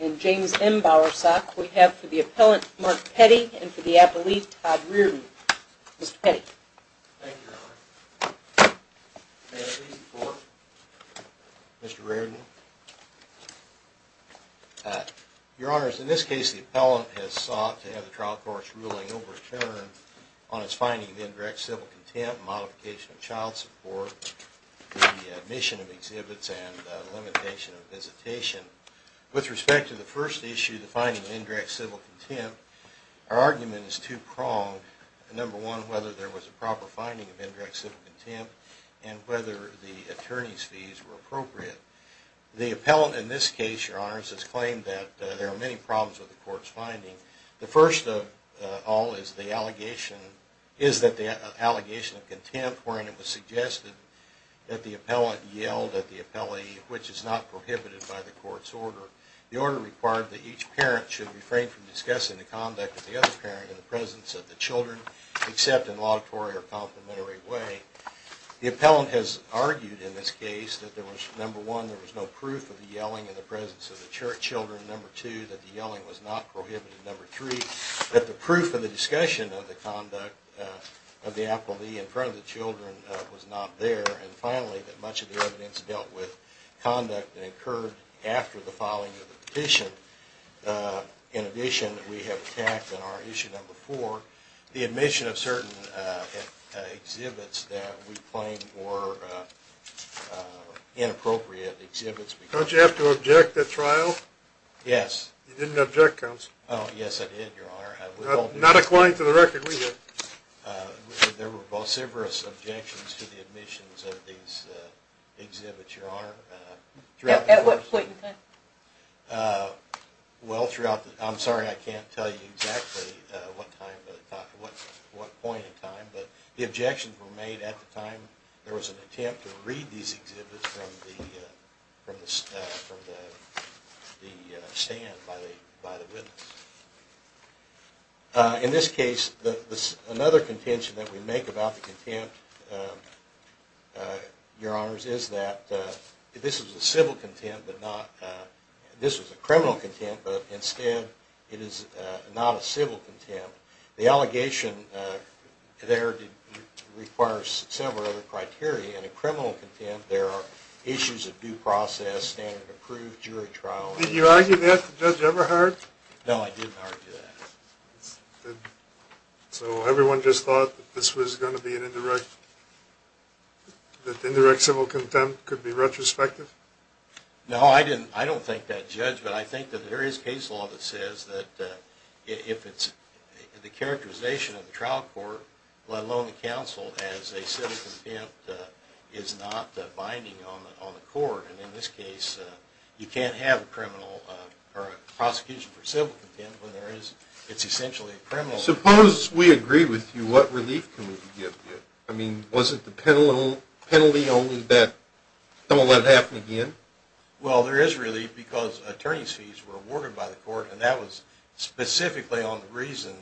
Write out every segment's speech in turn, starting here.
and James M. Bowersock, we have for the appellant, Mark Petty, and for the appellee, Todd Reardon. Mr. Petty. Thank you, Your Honor. May I please report, Mr. Reardon? Your Honor, in this case, the appellant has sought to have the trial court's ruling overturned as finding of indirect civil contempt, modification of child support, the admission of exhibits, and limitation of visitation. With respect to the first issue, the finding of indirect civil contempt, our argument is two-pronged. Number one, whether there was a proper finding of indirect civil contempt, and whether the attorney's fees were appropriate. The appellant, in this case, Your Honor, has claimed that there are many problems with the court's finding. The first of all is the allegation of contempt wherein it was suggested that the appellant yelled at the appellee, which is not prohibited by the court's order. The order required that each parent should refrain from discussing the conduct of the other parent in the presence of the children, except in a laudatory or complimentary way. The appellant has argued in this case that there was, number one, there was no proof of the yelling in the presence of the children. Number two, that the yelling was not prohibited. Number three, that the proof of the discussion of the conduct of the appellee in front of the children was not there. And finally, that much of the evidence dealt with conduct that occurred after the filing of the petition. In addition, we have attacked in our issue number four, the admission of certain exhibits that we claim were inappropriate exhibits. Don't you have to object at trial? Yes. You didn't object, counsel. Oh, yes, I did, Your Honor. Not according to the record we have. There were vociferous objections to the admissions of these exhibits, Your Honor. At what point in time? Well, throughout the – I'm sorry I can't tell you exactly what point in time, but the objections were made at the time there was an attempt to read these exhibits from the stand by the witness. In this case, another contention that we make about the contempt, Your Honors, is that this was a civil contempt, but not – this was a criminal contempt, but instead it is not a civil contempt. The allegation there requires several other criteria. In a criminal contempt, there are issues of due process, standard approved, jury trial. Did you argue that, Judge Everhart? No, I didn't argue that. So everyone just thought that this was going to be an indirect – that indirect civil contempt could be retrospective? No, I don't think that, Judge. But I think that there is case law that says that if it's the characterization of the trial court, let alone the counsel, as a civil contempt is not binding on the court. And in this case, you can't have a criminal – or a prosecution for civil contempt when there is – it's essentially a criminal contempt. Suppose we agree with you. What relief can we give you? I mean, was it the penalty only that – don't want to let it happen again? Well, there is relief because attorney's fees were awarded by the court, and that was specifically on the reason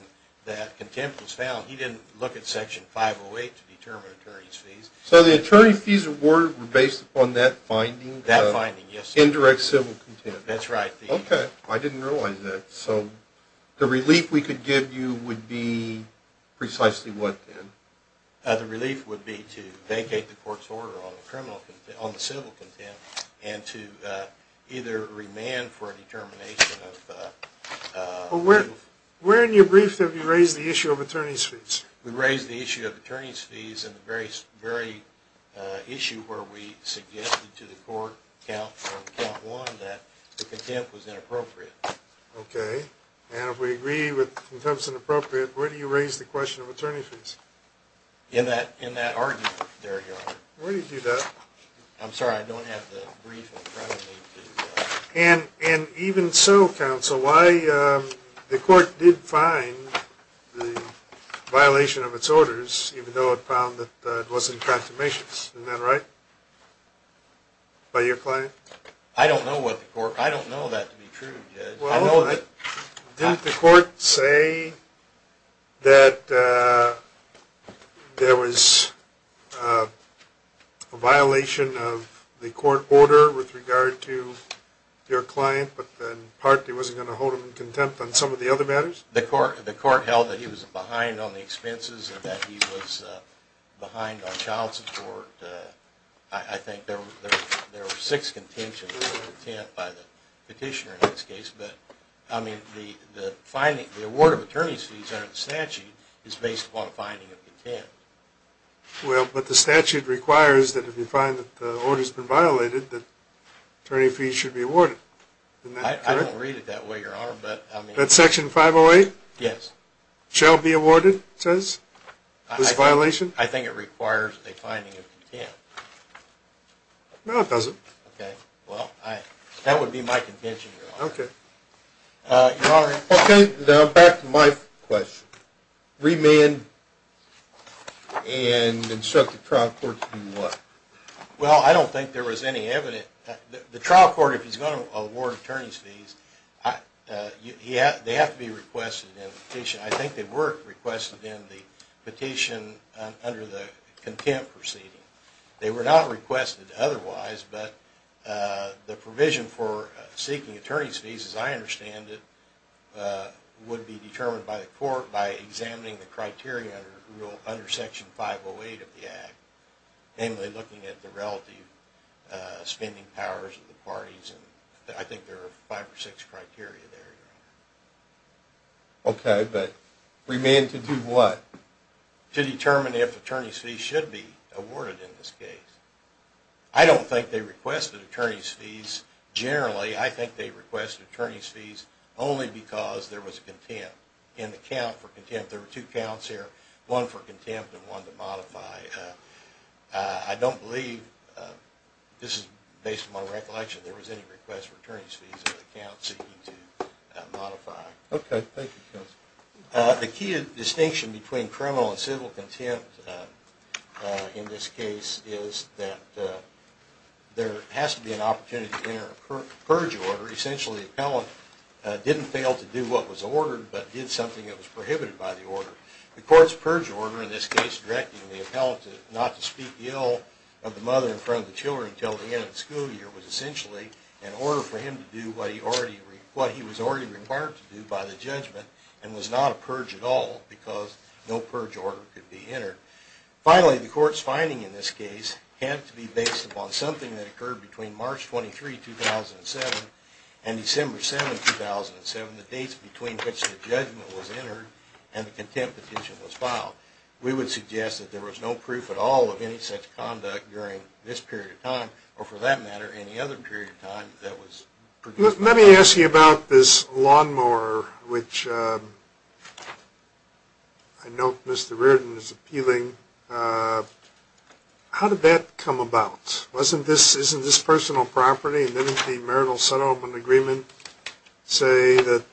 that contempt was found. He didn't look at Section 508 to determine attorney's fees. So the attorney's fees awarded were based upon that finding? That finding, yes. Indirect civil contempt. That's right. Okay. I didn't realize that. So the relief we could give you would be precisely what, then? The relief would be to vacate the court's order on the civil contempt and to either remand for a determination of – Where in your brief have you raised the issue of attorney's fees? We raised the issue of attorney's fees in the very issue where we suggested to the court, count one, that the contempt was inappropriate. Okay. And if we agree with contempt is inappropriate, where do you raise the question of attorney's fees? In that argument there, Your Honor. Where do you do that? I'm sorry, I don't have the brief in front of me. And even so, counsel, why the court did find the violation of its orders, even though it found that it wasn't consummations. Isn't that right? By your client? I don't know what the court – I don't know that to be true, Judge. Well, didn't the court say that there was a violation of the court order with regard to your client, but then partly it wasn't going to hold him in contempt on some of the other matters? The court held that he was behind on the expenses and that he was behind on child support. I think there were six contentions of contempt by the petitioner in this case, but the award of attorney's fees under the statute is based upon a finding of contempt. Well, but the statute requires that if you find that the order's been violated, that attorney fees should be awarded. I don't read it that way, Your Honor. That section 508? Yes. Shall be awarded, it says, this violation? I think it requires a finding of contempt. No, it doesn't. Okay. Well, that would be my contention, Your Honor. Okay. Your Honor. Okay, now back to my question. Remand and instruct the trial court to do what? Well, I don't think there was any evidence – the trial court, if he's going to award attorney's fees, they have to be requested in the petition. I think they were requested in the petition under the contempt proceeding. They were not requested otherwise, but the provision for seeking attorney's fees, as I understand it, would be determined by the court by examining the criteria under Section 508 of the Act, namely looking at the relative spending powers of the parties. I think there are five or six criteria there. Okay, but remand to do what? To determine if attorney's fees should be awarded in this case. I don't think they requested attorney's fees. Generally, I think they requested attorney's fees only because there was contempt. In the count for contempt, there were two counts here, one for contempt and one to modify. I don't believe – this is based on my recollection – that there was any request for attorney's fees in the count seeking to modify. Okay, thank you, counsel. The key distinction between criminal and civil contempt in this case is that there has to be an opportunity to enter a purge order. Essentially, the appellant didn't fail to do what was ordered, but did something that was prohibited by the order. The court's purge order, in this case directing the appellant not to speak ill of the mother in front of the children until the end of the school year, was essentially an order for him to do what he was already required to do by the judgment and was not a purge at all because no purge order could be entered. Finally, the court's finding in this case had to be based upon something that occurred between March 23, 2007 and December 7, 2007, the dates between which the judgment was entered and the contempt petition was filed. We would suggest that there was no proof at all of any such conduct during this period of time or, for that matter, any other period of time that was... Let me ask you about this lawnmower, which I note Mr. Reardon is appealing. How did that come about? Isn't this personal property? Didn't the marital settlement agreement say that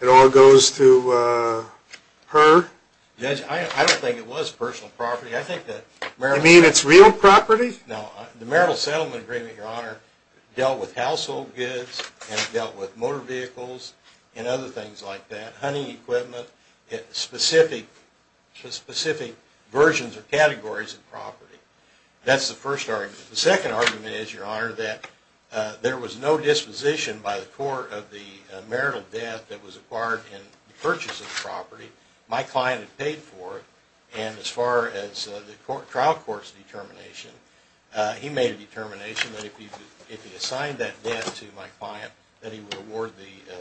it all goes to her? Judge, I don't think it was personal property. You mean it's real property? No, the marital settlement agreement, Your Honor, dealt with household goods and dealt with motor vehicles and other things like that, hunting equipment, specific versions or categories of property. That's the first argument. The second argument is, Your Honor, that there was no disposition by the court of the marital debt that was acquired in the purchase of the property. My client had paid for it, and as far as the trial court's determination, he made a determination that if he assigned that debt to my client, that he would award the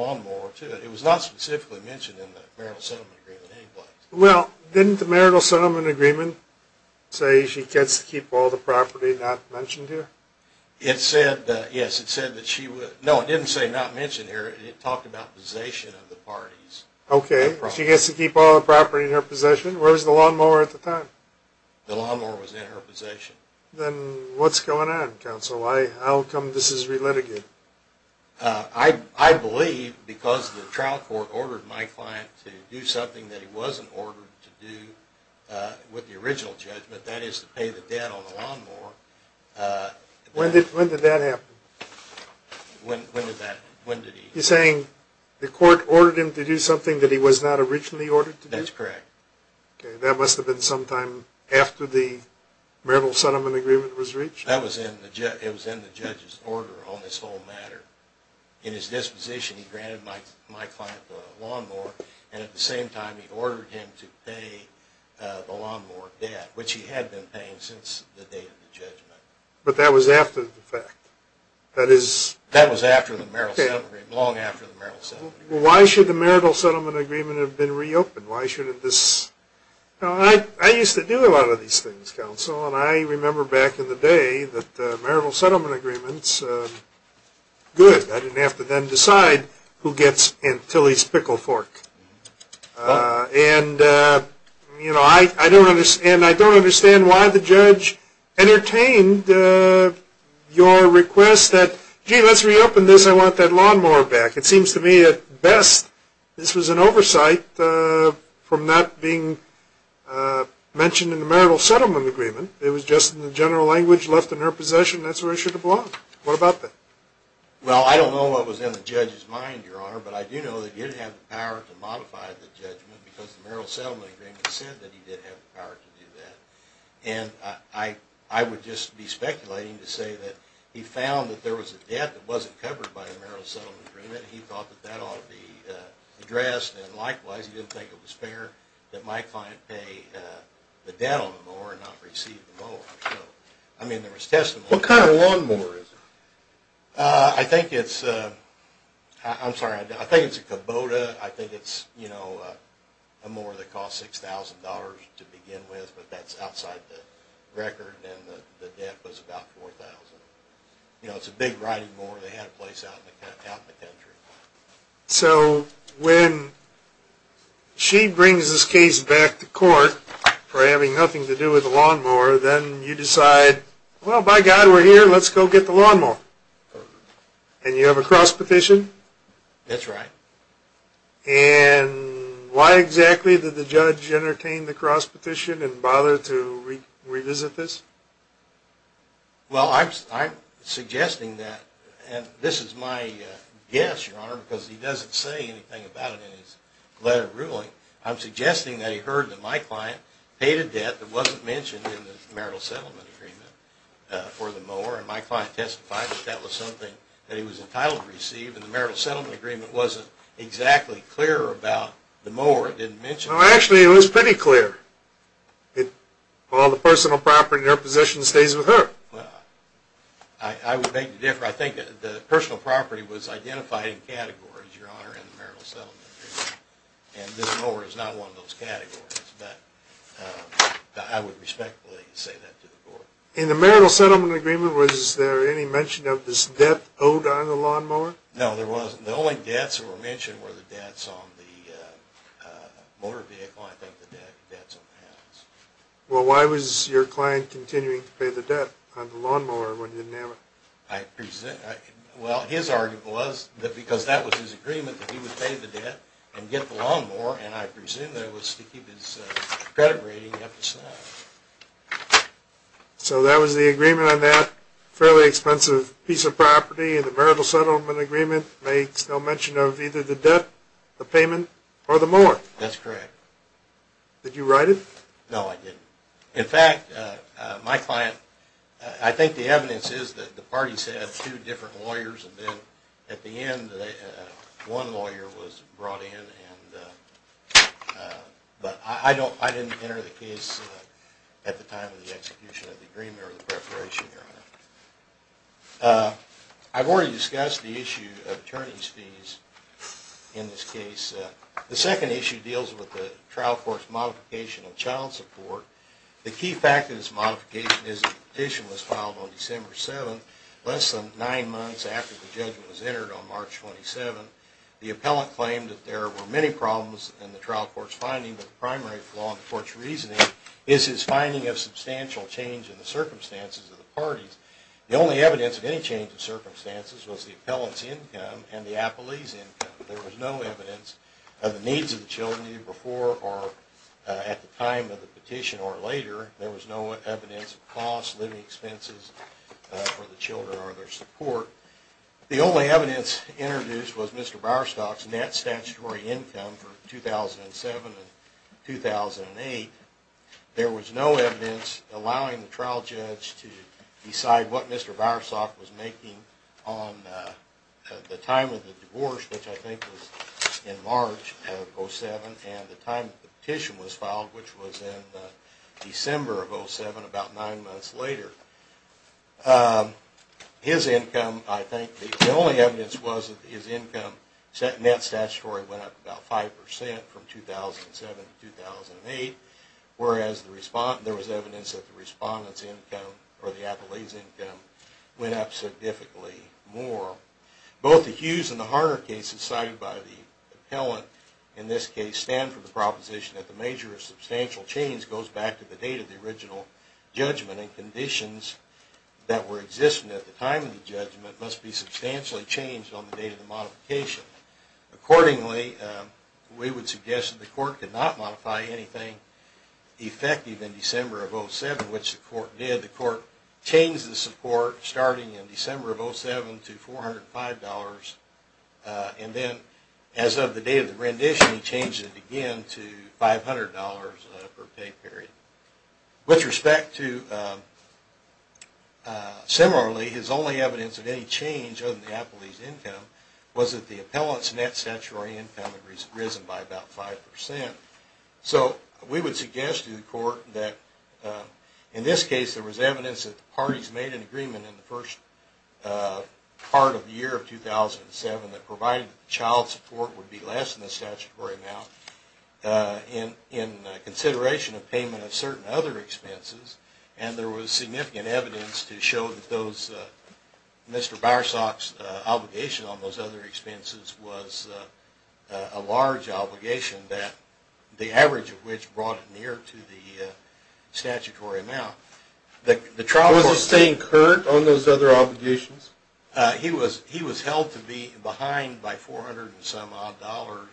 lawnmower to it. It was not specifically mentioned in the marital settlement agreement any place. Well, didn't the marital settlement agreement say she gets to keep all the property not mentioned here? Yes, it said that she would. No, it didn't say not mentioned here. It talked about possession of the property. Okay, she gets to keep all the property in her possession. Where was the lawnmower at the time? The lawnmower was in her possession. Then what's going on, counsel? How come this is relitigated? I believe because the trial court ordered my client to do something that he wasn't ordered to do with the original judgment, that is to pay the debt on the lawnmower. When did that happen? When did that, when did he? You're saying the court ordered him to do something that he was not originally ordered to do? That's correct. Okay, that must have been sometime after the marital settlement agreement was reached? It was in the judge's order on this whole matter. In his disposition, he granted my client the lawnmower, and at the same time he ordered him to pay the lawnmower debt, which he had been paying since the day of the judgment. But that was after the fact? That was after the marital settlement agreement, long after the marital settlement agreement. Well, why should the marital settlement agreement have been reopened? I used to do a lot of these things, counsel, and I remember back in the day that marital settlement agreements, good. I didn't have to then decide who gets until he's pickle fork. And I don't understand why the judge entertained your request that, gee, let's reopen this. I want that lawnmower back. It seems to me at best this was an oversight from that being mentioned in the marital settlement agreement. It was just in the general language left in her possession. That's where it should have belonged. What about that? Well, I don't know what was in the judge's mind, Your Honor, but I do know that he didn't have the power to modify the judgment because the marital settlement agreement said that he did have the power to do that. And I would just be speculating to say that he found that there was a debt that wasn't covered by the marital settlement agreement. He thought that that ought to be addressed. And likewise, he didn't think it was fair that my client pay the debt on the mower and not receive the mower. I mean, there was testimony. What kind of lawnmower is it? I think it's a Kubota. I think it's a mower that costs $6,000 to begin with, but that's outside the record. And the debt was about $4,000. It's a big riding mower. They had a place out in the country. So when she brings this case back to court for having nothing to do with the lawnmower, then you decide, well, by God, we're here. Let's go get the lawnmower. And you have a cross petition? That's right. And why exactly did the judge entertain the cross petition and bother to revisit this? Well, I'm suggesting that, and this is my guess, Your Honor, because he doesn't say anything about it in his letter of ruling. I'm suggesting that he heard that my client paid a debt that wasn't mentioned in the marital settlement agreement for the mower, and my client testified that that was something that he was entitled to receive, and the marital settlement agreement wasn't exactly clear about the mower. It didn't mention it. Actually, it was pretty clear. Well, the personal property in your position stays with her. Well, I would make the difference. I think the personal property was identified in categories, Your Honor, in the marital settlement agreement, and this mower is not one of those categories. But I would respectfully say that to the court. In the marital settlement agreement, was there any mention of this debt owed on the lawnmower? No, there wasn't. The only debts that were mentioned were the debts on the motor vehicle, and I think the debts on the house. Well, why was your client continuing to pay the debt on the lawnmower when he didn't have it? Well, his argument was that because that was his agreement that he would pay the debt and get the lawnmower, and I presume that it was to keep his credit rating up to snuff. So that was the agreement on that fairly expensive piece of property, and the marital settlement agreement makes no mention of either the debt, the payment, or the mower. That's correct. Did you write it? No, I didn't. In fact, my client, I think the evidence is that the parties had two different lawyers, and then at the end, one lawyer was brought in, but I didn't enter the case at the time of the execution of the agreement or the preparation, Your Honor. I've already discussed the issue of attorneys' fees in this case. The second issue deals with the trial court's modification of child support. The key fact of this modification is that the petition was filed on December 7th, less than nine months after the judgment was entered on March 27th. The appellant claimed that there were many problems in the trial court's finding, but the primary flaw in the court's reasoning is his finding of substantial change in the circumstances of the parties The only evidence of any change in circumstances was the appellant's income and the appellee's income. There was no evidence of the needs of the children either before or at the time of the petition or later. There was no evidence of costs, living expenses for the children or their support. The only evidence introduced was Mr. Broustock's net statutory income for 2007 and 2008. There was no evidence allowing the trial judge to decide what Mr. Broustock was making on the time of the divorce, which I think was in March of 2007, and the time that the petition was filed, which was in December of 2007, about nine months later. His income, I think, the only evidence was that his net statutory income went up about 5% from 2007 to 2008. Whereas there was evidence that the respondent's income or the appellee's income went up significantly more. Both the Hughes and the Harner cases cited by the appellant in this case stand for the proposition that the measure of substantial change goes back to the date of the original judgment and conditions that were existing at the time of the judgment must be substantially changed on the date of the modification. Accordingly, we would suggest that the court did not modify anything effective in December of 2007, which the court did. The court changed the support starting in December of 2007 to $405, and then as of the day of the rendition, he changed it again to $500 per pay period. With respect to, similarly, his only evidence of any change of the appellee's income was that the appellant's net statutory income had risen by about 5%. So we would suggest to the court that in this case there was evidence that the parties made an agreement in the first part of the year of 2007 that provided child support would be less than the statutory amount in consideration of payment of certain other expenses. And there was significant evidence to show that Mr. Barsach's obligation on those other expenses was a large obligation, the average of which brought it near to the statutory amount. Was he staying current on those other obligations? He was held to be behind by $400 and some odd dollars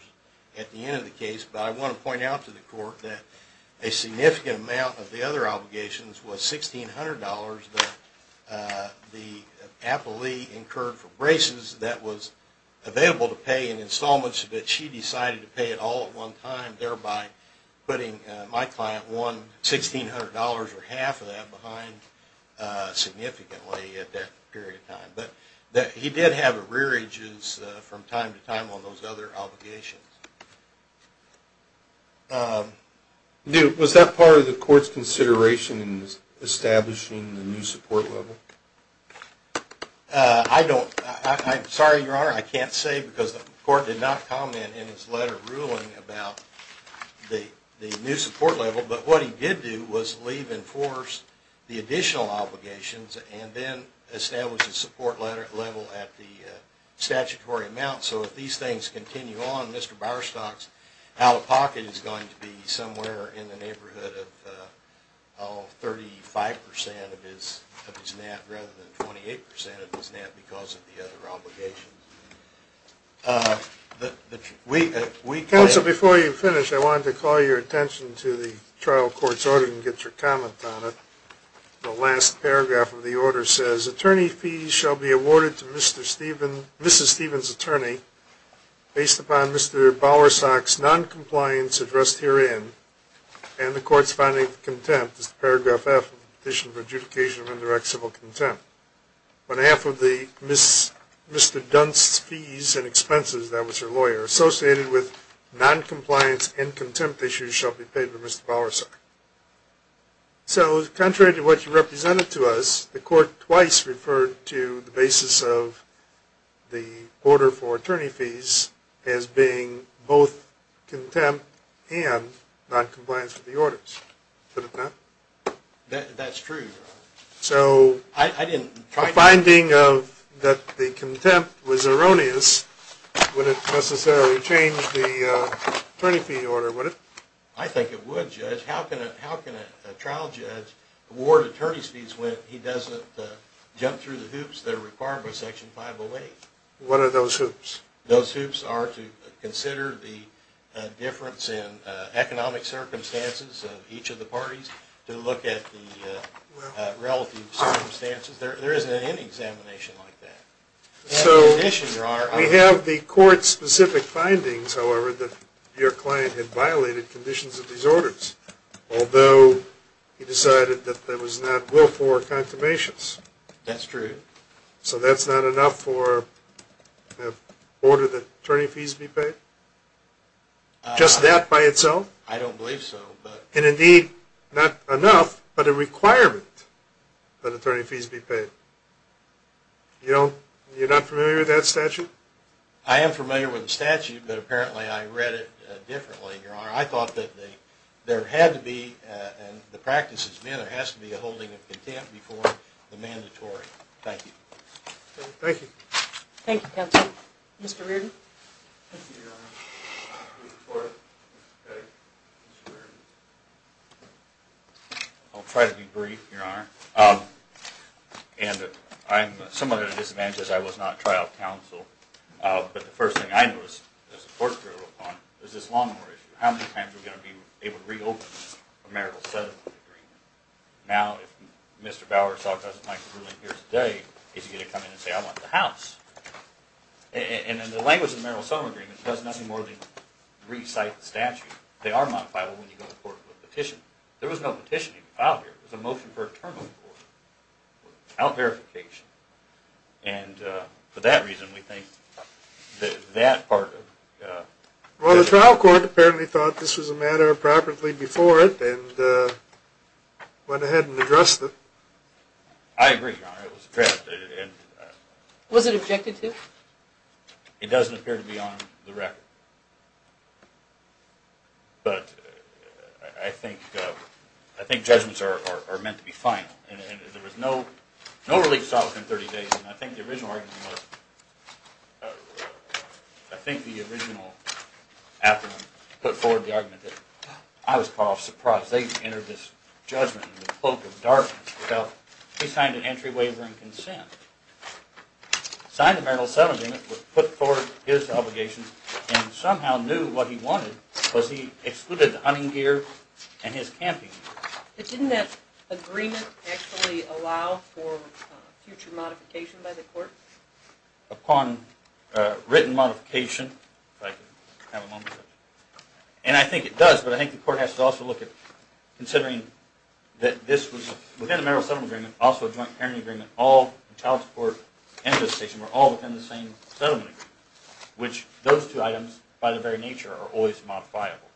at the end of the case, but I want to point out to the court that a significant amount of the other obligations was $1,600 that the appellee incurred for braces that was available to pay in installments, but she decided to pay it all at one time, thereby putting my client $1,600 or half of that But he did have rearages from time to time on those other obligations. Was that part of the court's consideration in establishing the new support level? I'm sorry, Your Honor, I can't say because the court did not comment in its letter ruling about the new support level, but what he did do was leave in force the additional obligations and then establish a support level at the statutory amount. So if these things continue on, Mr. Barsach's out-of-pocket is going to be somewhere in the neighborhood of 35% of his net rather than 28% of his net because of the other obligations. Counsel, before you finish, I wanted to call your attention to the trial court's order and get your comment on it. The last paragraph of the order says, Attorney fees shall be awarded to Mrs. Stevens' attorney based upon Mr. Barsach's noncompliance addressed herein and the court's finding of contempt. This is paragraph F of the Petition for Adjudication of Indirect Civil Contempt. On behalf of the Mr. Dunst's fees and expenses, that was her lawyer, associated with noncompliance and contempt issues shall be paid to Mr. Barsach. So, contrary to what you represented to us, the court twice referred to the basis of the order for attorney fees as being both contempt and noncompliance with the orders. That's true, Your Honor. So, the finding of that the contempt was erroneous wouldn't necessarily change the attorney fee order, would it? I think it would, Judge. How can a trial judge award attorney fees when he doesn't jump through the hoops that are required by Section 508? What are those hoops? Those hoops are to consider the difference in economic circumstances of each of the parties, to look at the relative circumstances. There isn't any examination like that. So, we have the court's specific findings, however, that your client had violated conditions of these orders, although he decided that there was not willful confirmations. That's true. So, that's not enough for the order that attorney fees be paid? Just that by itself? I don't believe so. And indeed, not enough, but a requirement that attorney fees be paid. You're not familiar with that statute? I am familiar with the statute, but apparently I read it differently, Your Honor. I thought that there had to be, and the practice has been, there has to be a holding of contempt before the mandatory. Thank you. Thank you. Thank you, Counsel. Mr. Reardon? Thank you, Your Honor. I'll try to be brief, Your Honor. And I'm somewhat at a disadvantage as I was not trial counsel, but the first thing I noticed as the court drew upon it was this lawnmower issue. How many times are we going to be able to reopen a marital settlement agreement? Now, if Mr. Bowers doesn't like the ruling here today, is he going to come in and say, I want the house? And in the language of the marital settlement agreement, it does nothing more than re-cite the statute. They are modifiable when you go to court with a petition. There was no petition even filed here. It was a motion for a terminal court without verification. And for that reason, we think that that part of it. Well, the trial court apparently thought this was a matter of property before it and went ahead and addressed it. I agree, Your Honor. Was it objected to? It doesn't appear to be on the record. But I think judgments are meant to be final. And there was no relief sought within 30 days. And I think the original argument was – I think the original affidavit put forward the argument that I was part of surprise. They entered this judgment in the cloak of darkness. He signed an entry waiver and consent. Signing the marital settlement agreement put forward his obligations and somehow knew what he wanted because he excluded the hunting gear and his camping gear. But didn't that agreement actually allow for future modification by the court? Upon written modification, if I can have a moment. And I think it does. But I think the court has to also look at considering that this was – within the marital settlement agreement, also a joint parenting agreement, all child support and visitation were all within the same settlement agreement. Which those two items, by their very nature, are always modifiable.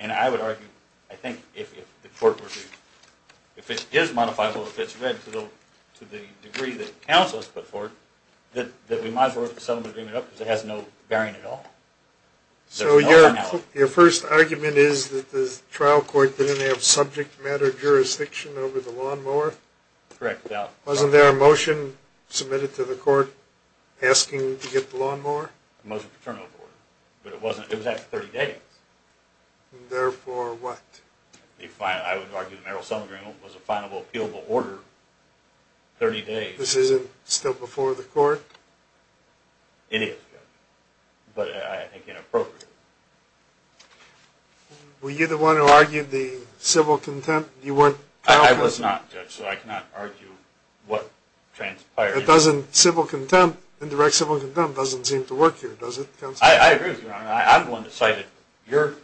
And I would argue, I think, if the court were to – if it is modifiable, if it's read to the degree that the counsel has put forward, that we might as well write the settlement agreement up because it has no bearing at all. So your first argument is that the trial court didn't have subject matter jurisdiction over the lawnmower? Correct. Wasn't there a motion submitted to the court asking to get the lawnmower? A motion to turn over the order. But it wasn't – it was after 30 days. Therefore what? I would argue the marital settlement agreement was a final, appealable order. 30 days. This isn't still before the court? It is. But I think inappropriate. Were you the one who argued the civil contempt? You weren't trial counsel? I was not, Judge, so I cannot argue what transpired. Doesn't civil contempt, indirect civil contempt, doesn't seem to work here, does it, Counsel? I agree with you, Your Honor. I'm the one that cited your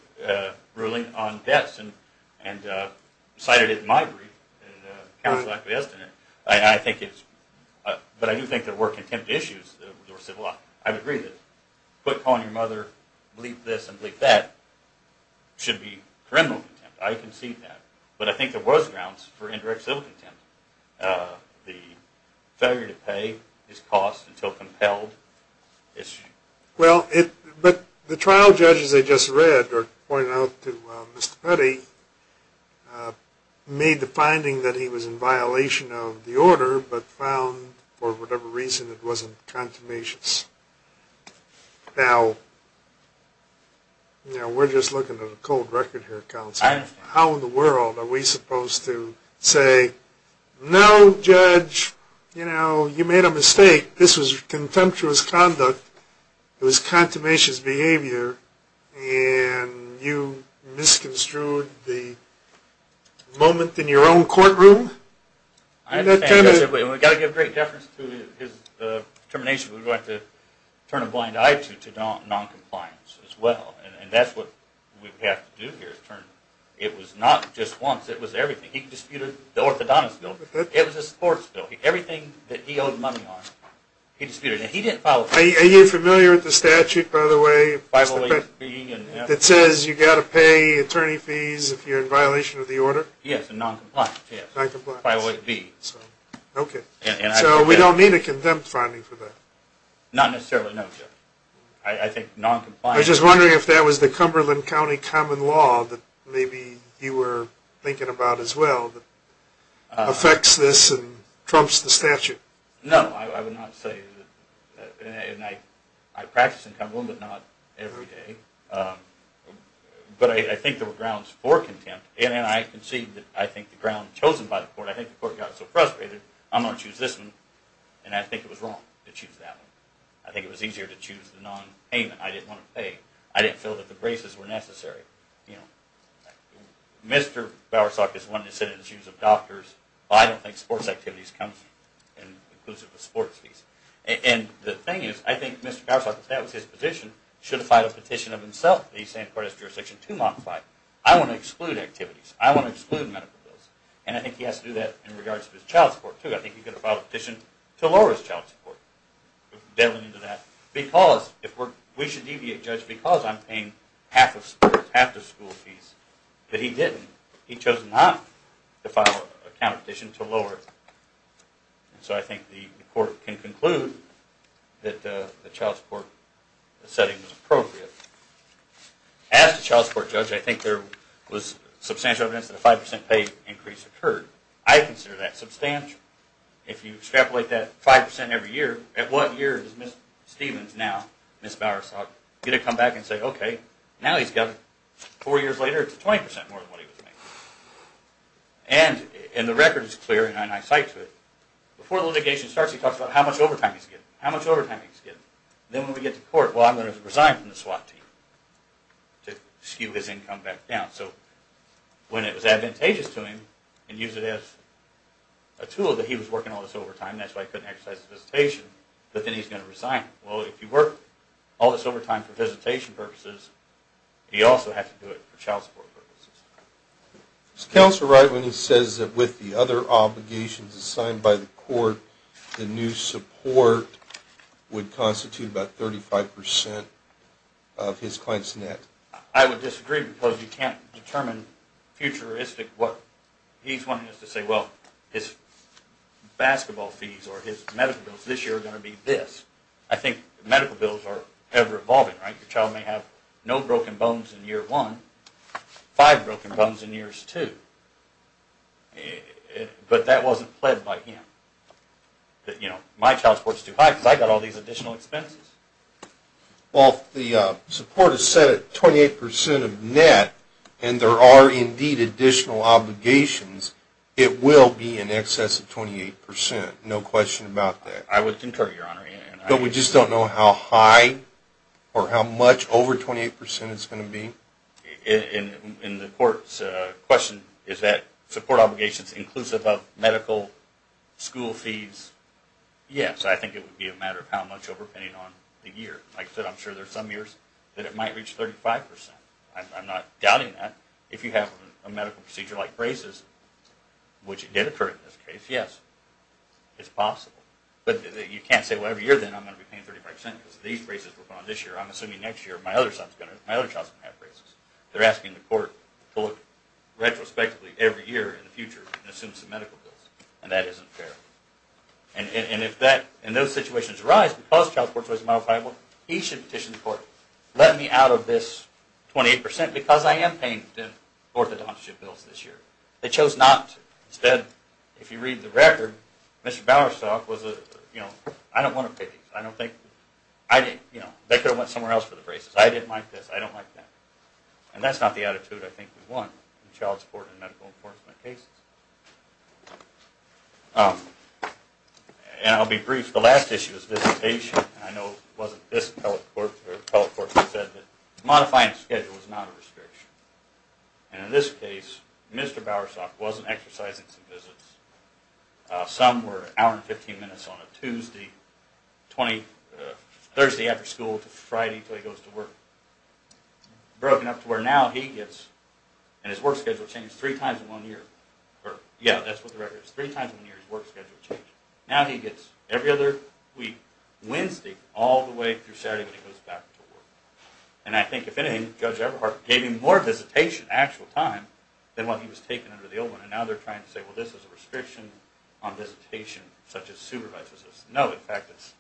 ruling on debts and cited it in my brief. Counsel actually has done it. But I do think there were contempt issues that were civil. I would agree with it. Quit calling your mother bleep this and bleep that. It should be criminal contempt. I concede that. But I think there was grounds for indirect civil contempt. The failure to pay his costs until compelled. Well, but the trial judges I just read pointed out to Mr. Petty made the finding that he was in violation of the order but found for whatever reason it wasn't contumacious. Now, we're just looking at a cold record here, Counsel. I understand. How in the world are we supposed to say, no, Judge, you made a mistake. This was contemptuous conduct. It was contumacious behavior. And you misconstrued the moment in your own courtroom? I understand. We've got to give great deference to his determination. We're going to have to turn a blind eye to noncompliance as well. And that's what we have to do here. It was not just once. It was everything. He disputed the orthodontist bill. It was a sports bill. Everything that he owed money on, he disputed. And he didn't file a complaint. Are you familiar with the statute, by the way, that says you've got to pay attorney fees if you're in violation of the order? Yes, and noncompliance. Noncompliance. 508B. Okay. So we don't need a contempt finding for that? Not necessarily, no, Judge. I think noncompliance. I was just wondering if that was the Cumberland County common law that maybe you were thinking about as well that affects this and trumps the statute. No, I would not say that. And I practice in Cumberland, but not every day. But I think there were grounds for contempt. And I concede that I think the ground chosen by the court, I think the court got so frustrated, I'm going to choose this one, and I think it was wrong to choose that one. I think it was easier to choose the nonpayment. I didn't want to pay. I didn't feel that the braces were necessary. Mr. Bowersalk just wanted to sit in the shoes of doctors. I don't think sports activities come inclusive of sports fees. And the thing is, I think Mr. Bowersalk, if that was his petition, should have filed a petition of himself that he's saying the court has jurisdiction to modify. I want to exclude activities. I want to exclude medical bills. And I think he has to do that in regards to his child support, too. I think he could have filed a petition to lower his child support. We should deviate, Judge, because I'm paying half the school fees. But he didn't. He chose not to file a petition to lower it. So I think the court can conclude that the child support setting was appropriate. As the child support judge, I think there was substantial evidence that a 5% pay increase occurred. I consider that substantial. If you extrapolate that 5% every year, at what year is Ms. Stevens now, Ms. Bowersalk, going to come back and say, okay, now he's got it. Four years later, it's 20% more than what he was making. And the record is clear, and I cite to it. Before the litigation starts, he talks about how much overtime he's getting. How much overtime he's getting. Then when we get to court, well, I'm going to resign from the SWAT team to skew his income back down. When it was advantageous to him, and use it as a tool that he was working all this overtime, that's why he couldn't exercise his visitation, but then he's going to resign. Well, if you work all this overtime for visitation purposes, you also have to do it for child support purposes. Is Counselor right when he says that with the other obligations assigned by the court, the new support would constitute about 35% of his client's net? I would disagree because you can't determine futuristic what he's wanting us to say. Well, his basketball fees or his medical bills this year are going to be this. I think medical bills are ever-evolving, right? Your child may have no broken bones in year one, five broken bones in years two. But that wasn't pled by him. You know, my child support is too high because I got all these additional expenses. Well, if the support is set at 28% of net, and there are indeed additional obligations, it will be in excess of 28%. No question about that. I would concur, Your Honor. But we just don't know how high or how much over 28% it's going to be? In the court's question, is that support obligations inclusive of medical, school fees? Yes, I think it would be a matter of how much overpaying on the year. Like I said, I'm sure there are some years that it might reach 35%. I'm not doubting that. If you have a medical procedure like braces, which it did occur in this case, yes, it's possible. But you can't say, well, every year then I'm going to be paying 35% because these braces were put on this year. I'm assuming next year my other child's going to have braces. They're asking the court to look retrospectively every year in the future and assume some medical bills, and that isn't fair. And if those situations arise because child support is always modifiable, he should petition the court, let me out of this 28% because I am paying the orthodontic bills this year. They chose not to. Instead, if you read the record, Mr. Bowersalk was a, you know, I don't want to pick him. I don't think, you know, they could have went somewhere else for the braces. I didn't like this. I don't like that. And that's not the attitude I think we want in child support and medical enforcement cases. And I'll be brief. The last issue is visitation, and I know it wasn't this appellate court or the appellate court that said that modifying the schedule was not a restriction. And in this case, Mr. Bowersalk wasn't exercising some visits. Some were an hour and 15 minutes on a Tuesday, Thursday after school to Friday until he goes to work. Broken up to where now he gets, and his work schedule changed three times in one year. Yeah, that's what the record is. Three times in one year his work schedule changed. Now he gets every other week, Wednesday, all the way through Saturday when he goes back to work. And I think, if anything, Judge Everhart gave him more visitation, actual time, than what he was taking under the old one. And now they're trying to say, well, this is a restriction on visitation, such as supervises us. No, in fact, it's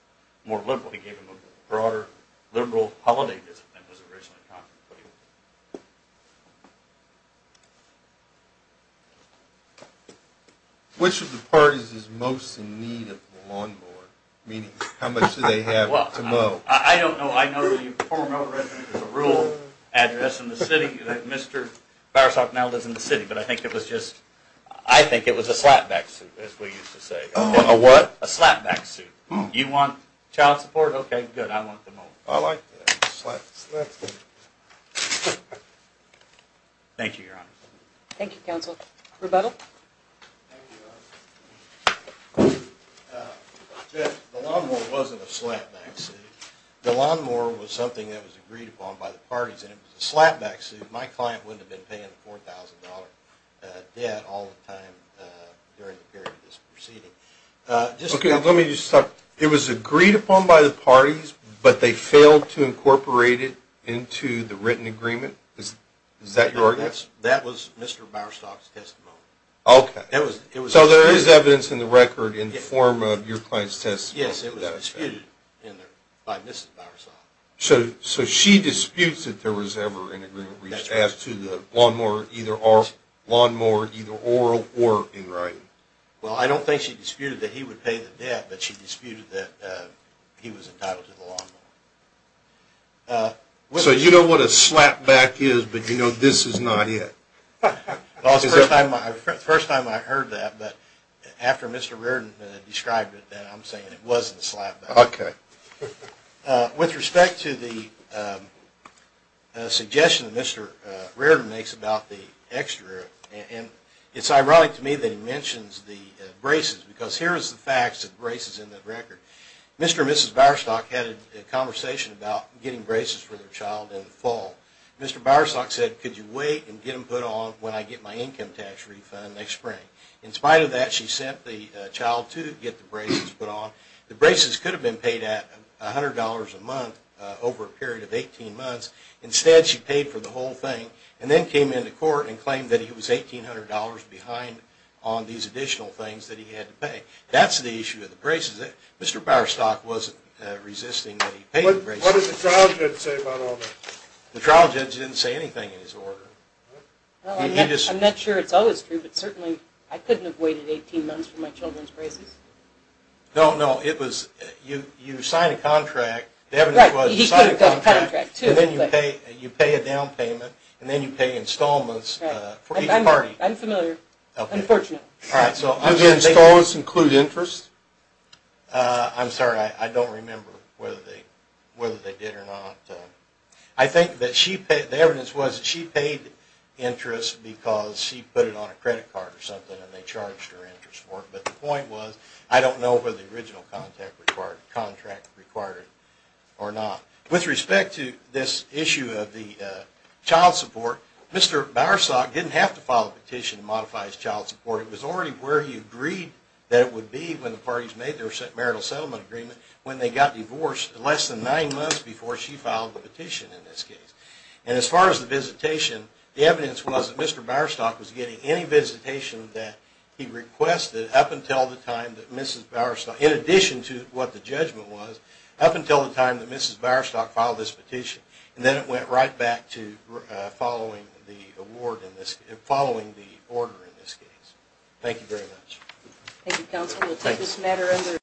more liberal. He gave him a broader, liberal holiday visit than was originally contemplated. Which of the parties is most in need of the lawnmower? Meaning, how much do they have to mow? I don't know. I know the former owner has a rural address in the city that Mr. Bowersalk now lives in the city. But I think it was just, I think it was a slapback suit, as we used to say. A what? A slapback suit. You want child support? Okay, good. I want them all. I like that. Slap, slap, slap. Thank you, Your Honor. Thank you, Counsel. Rebuttal? Jeff, the lawnmower wasn't a slapback suit. The lawnmower was something that was agreed upon by the parties, and it was a slapback suit. My client wouldn't have been paying a $4,000 debt all the time during the period of this proceeding. Okay, let me just stop. It was agreed upon by the parties, but they failed to incorporate it into the written agreement? Is that your argument? That was Mr. Bowersalk's testimony. Okay. So there is evidence in the record in the form of your client's testimony? Yes, it was disputed by Mrs. Bowersalk. So she disputes that there was ever an agreement reached as to the lawnmower either oral or in writing? Well, I don't think she disputed that he would pay the debt, but she disputed that he was entitled to the lawnmower. So you know what a slapback is, but you know this is not it? Well, it was the first time I heard that, but after Mr. Reardon described it, then I'm saying it wasn't a slapback. Okay. With respect to the suggestion that Mr. Reardon makes about the extra, it's ironic to me that he mentions the braces, because here is the fact that braces are in the record. Mr. and Mrs. Bowersalk had a conversation about getting braces for their child in the fall. Mr. Bowersalk said, could you wait and get them put on when I get my income tax refund next spring? In spite of that, she sent the child to get the braces put on. The braces could have been paid at $100 a month over a period of 18 months. Instead, she paid for the whole thing and then came into court and claimed that he was $1,800 behind on these additional things that he had to pay. That's the issue with the braces. Mr. Bowersalk wasn't resisting that he pay the braces. What did the trial judge say about all this? The trial judge didn't say anything in his order. I'm not sure it's always true, but certainly I couldn't have waited 18 months for my children's braces. No, no. You sign a contract. The evidence was you sign a contract and then you pay a down payment and then you pay installments for each party. I'm familiar. Unfortunate. Do the installments include interest? I'm sorry. I don't remember whether they did or not. I think the evidence was that she paid interest because she put it on a credit card or something and they charged her interest for it. But the point was I don't know whether the original contract required it or not. With respect to this issue of the child support, Mr. Bowersalk didn't have to file a petition to modify his child support. It was already where he agreed that it would be when the parties made their marital settlement agreement when they got divorced less than nine months before she filed the petition in this case. And as far as the visitation, the evidence was that Mr. Bowersalk was getting any visitation that he requested up until the time that Mrs. Bowersalk, in addition to what the judgment was, up until the time that Mrs. Bowersalk filed this petition. And then it went right back to following the order in this case. Thank you very much. Thank you, counsel. We'll take this matter under review.